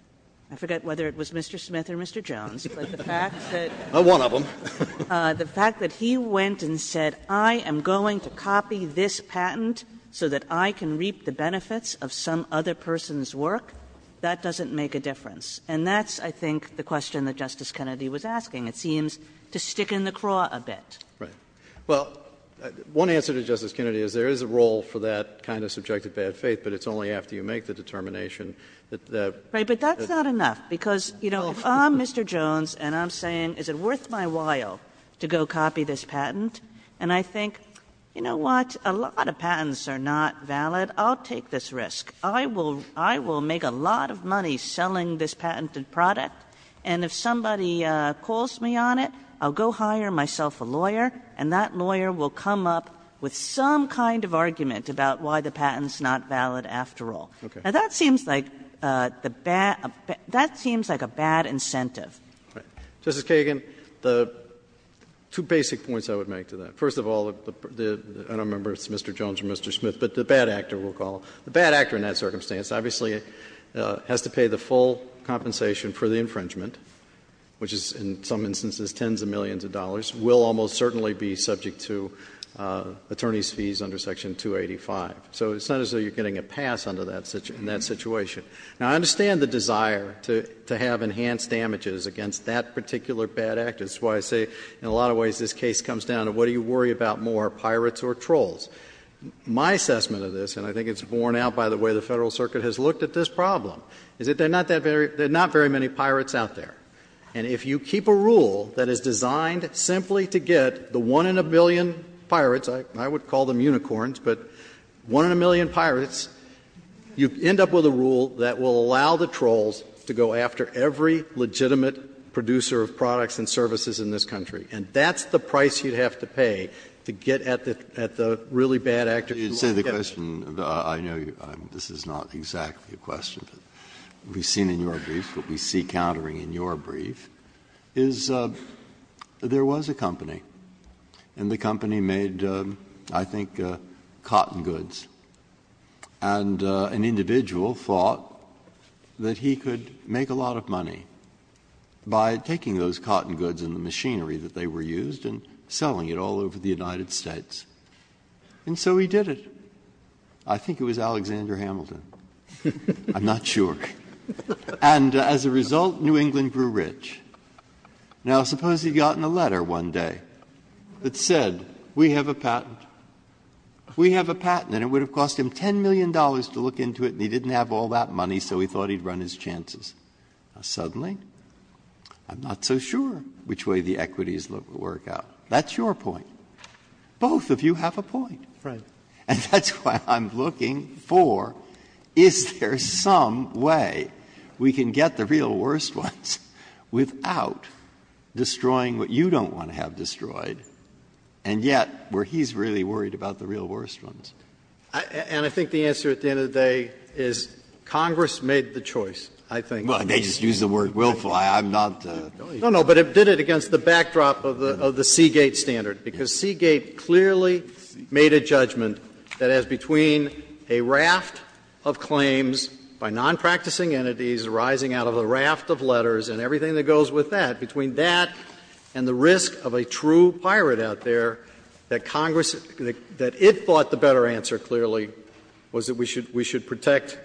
— I forget whether it was Mr. Smith or Mr. Jones, but the fact that — One of them. The fact that he went and said, I am going to copy this patent so that I can reap the benefits of some other person's work, that doesn't make a difference. And that's, I think, the question that Justice Kennedy was asking. It seems to stick in the craw a bit. Right. Well, one answer to Justice Kennedy is there is a role for that kind of subjective bad faith, but it's only after you make the determination that — Right, but that's not enough, because, you know, I'm Mr. Jones and I'm saying, is it worth my while to go copy this patent? And I think, you know what, a lot of patents are not valid. I'll take this risk. I will make a lot of money selling this patented product, and if somebody calls me on it, I'll go hire myself a lawyer, and that lawyer will come up with some kind of argument about why the patent's not valid after all. Now, that seems like the bad — that seems like a bad incentive. Justice Kagan, the two basic points I would make to that. First of all, I don't remember if it's Mr. Jones or Mr. Smith, but the bad actor we'll call — the bad actor in that circumstance obviously has to pay the full compensation for the infringement, which is in some instances tens of millions of dollars, will almost certainly be subject to attorney's fees under Section 285. So it's not as though you're getting a pass under that — in that situation. Now, I understand the desire to have enhanced damages against that particular bad actor. That's why I say, in a lot of ways, this case comes down to what do you worry about more, pirates or trolls? My assessment of this, and I think it's borne out by the way the Federal Circuit has looked at this problem, is that there are not that very — there are not very many pirates out there. And if you keep a rule that is designed simply to get the one in a million pirates — I would call them unicorns, but one in a million pirates — you end up with a rule that will allow the trolls to go after every legitimate producer of products and services in this country. And that's the price you'd have to pay to get at the really bad actor who won't get it. Breyer, I know this is not exactly a question, but we've seen in your brief, what we see countering in your brief, is there was a company, and the company made, I think, cotton goods. And an individual thought that he could make a lot of money by taking those cotton goods that they were used and selling it all over the United States. And so he did it. I think it was Alexander Hamilton. I'm not sure. And as a result, New England grew rich. Now suppose he'd gotten a letter one day that said, we have a patent. We have a patent. And it would have cost him $10 million to look into it, and he didn't have all that money, so he thought he'd run his chances. Now, suddenly, I'm not so sure which way the equities will work out. That's your point. Both of you have a point. And that's what I'm looking for. Is there some way we can get the real worst ones without destroying what you don't want to have destroyed, and yet where he's really worried about the real worst ones? And I think the answer at the end of the day is Congress made the choice, I think. Breyer, they just used the word willful. I'm not. No, no, but it did it against the backdrop of the Seagate standard, because Seagate clearly made a judgment that as between a raft of claims by nonpracticing entities arising out of a raft of letters and everything that goes with that, between that and the risk of a true pirate out there, that Congress, that it thought the better answer clearly was that we should protect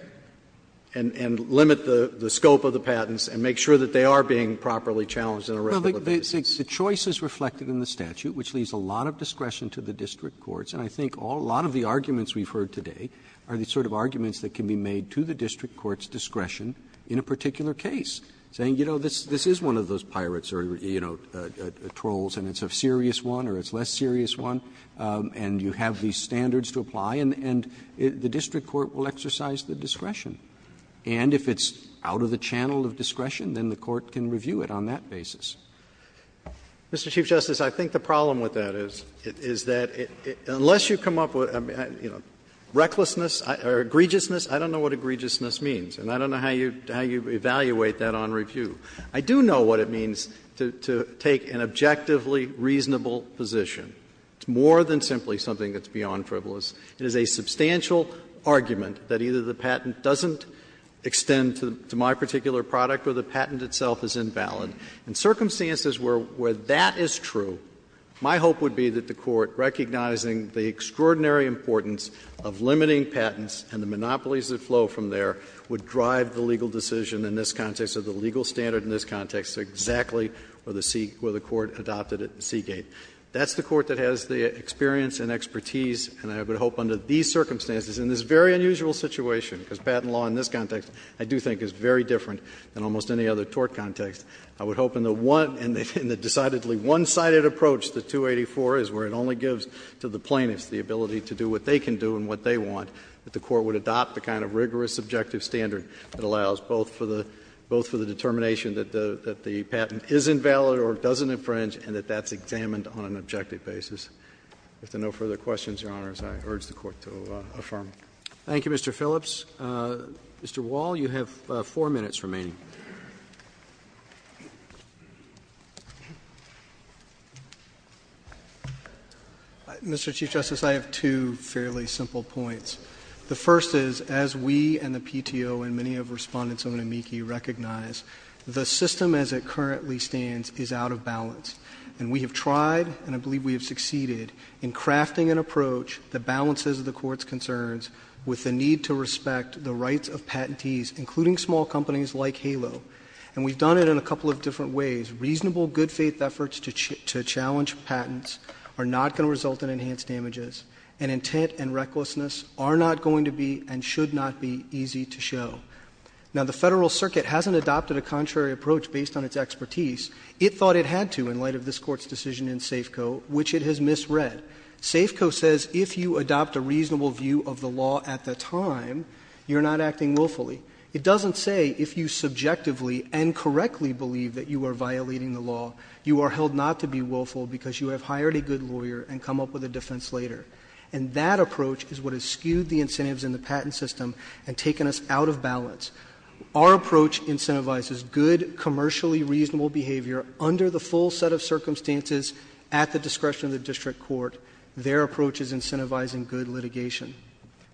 and limit the scope of the patents and make sure that they are being properly challenged in a regular basis. Roberts Well, the choice is reflected in the statute, which leaves a lot of discretion to the district courts. And I think a lot of the arguments we've heard today are the sort of arguments that can be made to the district court's discretion in a particular case, saying, you know, this is one of those pirates or, you know, trolls, and it's a serious one or it's a less serious one, and you have these standards to apply, and the district court will exercise the discretion. And if it's out of the channel of discretion, then the court can review it on that basis. Phillips Mr. Chief Justice, I think the problem with that is, is that unless you come up with recklessness or egregiousness, I don't know what egregiousness means, and I don't know how you evaluate that on review. I do know what it means to take an objectively reasonable position. It's more than simply something that's beyond frivolous. It is a substantial argument that either the patent doesn't extend to my particular product or the patent itself is invalid. In circumstances where that is true, my hope would be that the Court, recognizing the extraordinary importance of limiting patents and the monopolies that flow from there, would drive the legal decision in this context or the legal standard in this context exactly where the court adopted it in Seagate. That's the court that has the experience and expertise, and I would hope under these circumstances, in this very unusual situation, because patent law in this context I do think is very different than almost any other tort context, I would hope in the one, in the decidedly one-sided approach that 284 is where it only gives to the plaintiffs the ability to do what they can do and what they want, that the court would adopt the kind of rigorous subjective standard that allows both for the determination that the patent is invalid or doesn't infringe and that that's examined on an objective basis. If there are no further questions, Your Honors, I urge the Court to affirm. Thank you, Mr. Phillips. Mr. Wall, you have four minutes remaining. Mr. Chief Justice, I have two fairly simple points. The first is, as we and the PTO and many of Respondents of NAMIKI recognize, the system as it currently stands is out of balance, and we have tried, and I believe we have succeeded, in crafting an approach that balances the Court's concerns with the need to respect the rights of patentees, including small companies like HALO, and we've done it in a couple of different ways. Reasonable good-faith efforts to challenge patents are not going to result in enhanced damages, and intent and recklessness are not going to be and should not be easy to show. Now, the Federal Circuit hasn't adopted a contrary approach based on its expertise. It thought it had to in light of this Court's decision in SAFCO, which it has misread. SAFCO says if you adopt a reasonable view of the law at the time, you're not acting willfully. It doesn't say if you subjectively and correctly believe that you are violating the law, you are held not to be willful because you have hired a good lawyer and come up with a defense later. And that approach is what has skewed the incentives in the patent system and taken us out of balance. Our approach incentivizes good, commercially reasonable behavior under the full set of circumstances at the discretion of the district court. Their approach is incentivizing good litigation.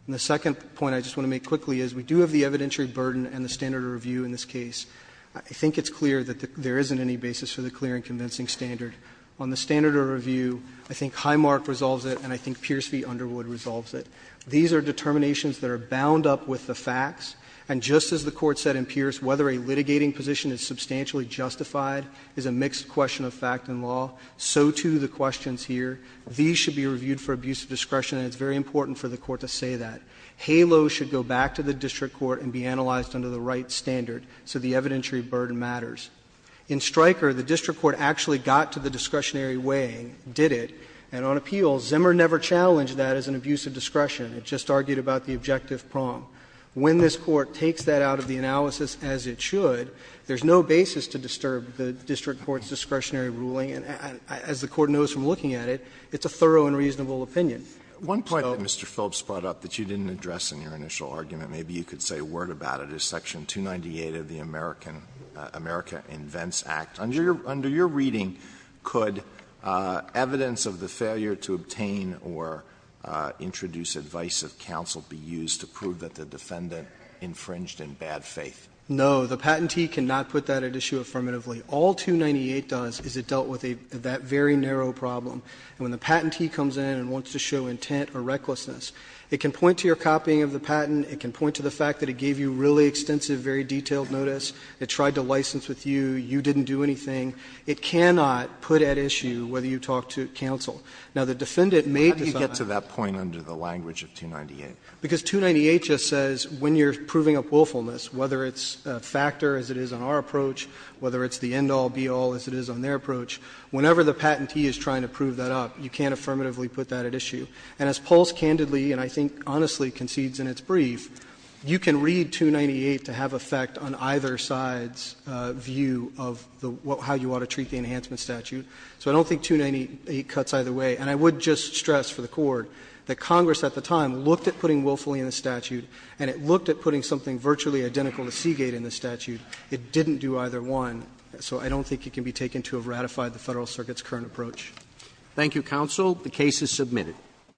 And the second point I just want to make quickly is we do have the evidentiary burden and the standard of review in this case. I think it's clear that there isn't any basis for the clear and convincing standard. On the standard of review, I think Highmark resolves it and I think Pierce v. Underwood resolves it. These are determinations that are bound up with the facts. And just as the Court said in Pierce, whether a litigating position is substantially justified is a mixed question of fact and law. So, too, the questions here. These should be reviewed for abuse of discretion, and it's very important for the Court to say that. HALO should go back to the district court and be analyzed under the right standard so the evidentiary burden matters. In Stryker, the district court actually got to the discretionary weighing, did it. And on appeals, Zimmer never challenged that as an abuse of discretion. It just argued about the objective prong. When this Court takes that out of the analysis, as it should, there's no basis to disturb the district court's discretionary ruling. And as the Court knows from looking at it, it's a thorough and reasonable opinion. Alito, so. Alito, Mr. Phillips brought up that you didn't address in your initial argument. Maybe you could say a word about it. Is section 298 of the American Invents Act, under your reading, could evidence of the failure to obtain or introduce advice of counsel be used to prove that the defendant infringed in bad faith? No. The patentee cannot put that at issue affirmatively. All 298 does is it dealt with that very narrow problem. And when the patentee comes in and wants to show intent or recklessness, it can point to your copying of the patent. It can point to the fact that it gave you really extensive, very detailed notice. It tried to license with you. You didn't do anything. It cannot put at issue whether you talked to counsel. Now, the defendant may decide. Alito, how did you get to that point under the language of 298? Because 298 just says when you're proving up willfulness, whether it's a factor as it is in our approach, whether it's the end-all, be-all as it is on their approach, whenever the patentee is trying to prove that up, you can't affirmatively put that at issue. And as Pulse candidly and I think honestly concedes in its brief, you can read 298 to have effect on either side's view of how you ought to treat the enhancement statute. So I don't think 298 cuts either way. And I would just stress for the Court that Congress at the time looked at putting willfully in the statute, and it looked at putting something virtually identical to Seagate in the statute. It didn't do either one. So I don't think it can be taken to have ratified the Federal Circuit's current approach. Thank you, counsel. The case is submitted. Thank you.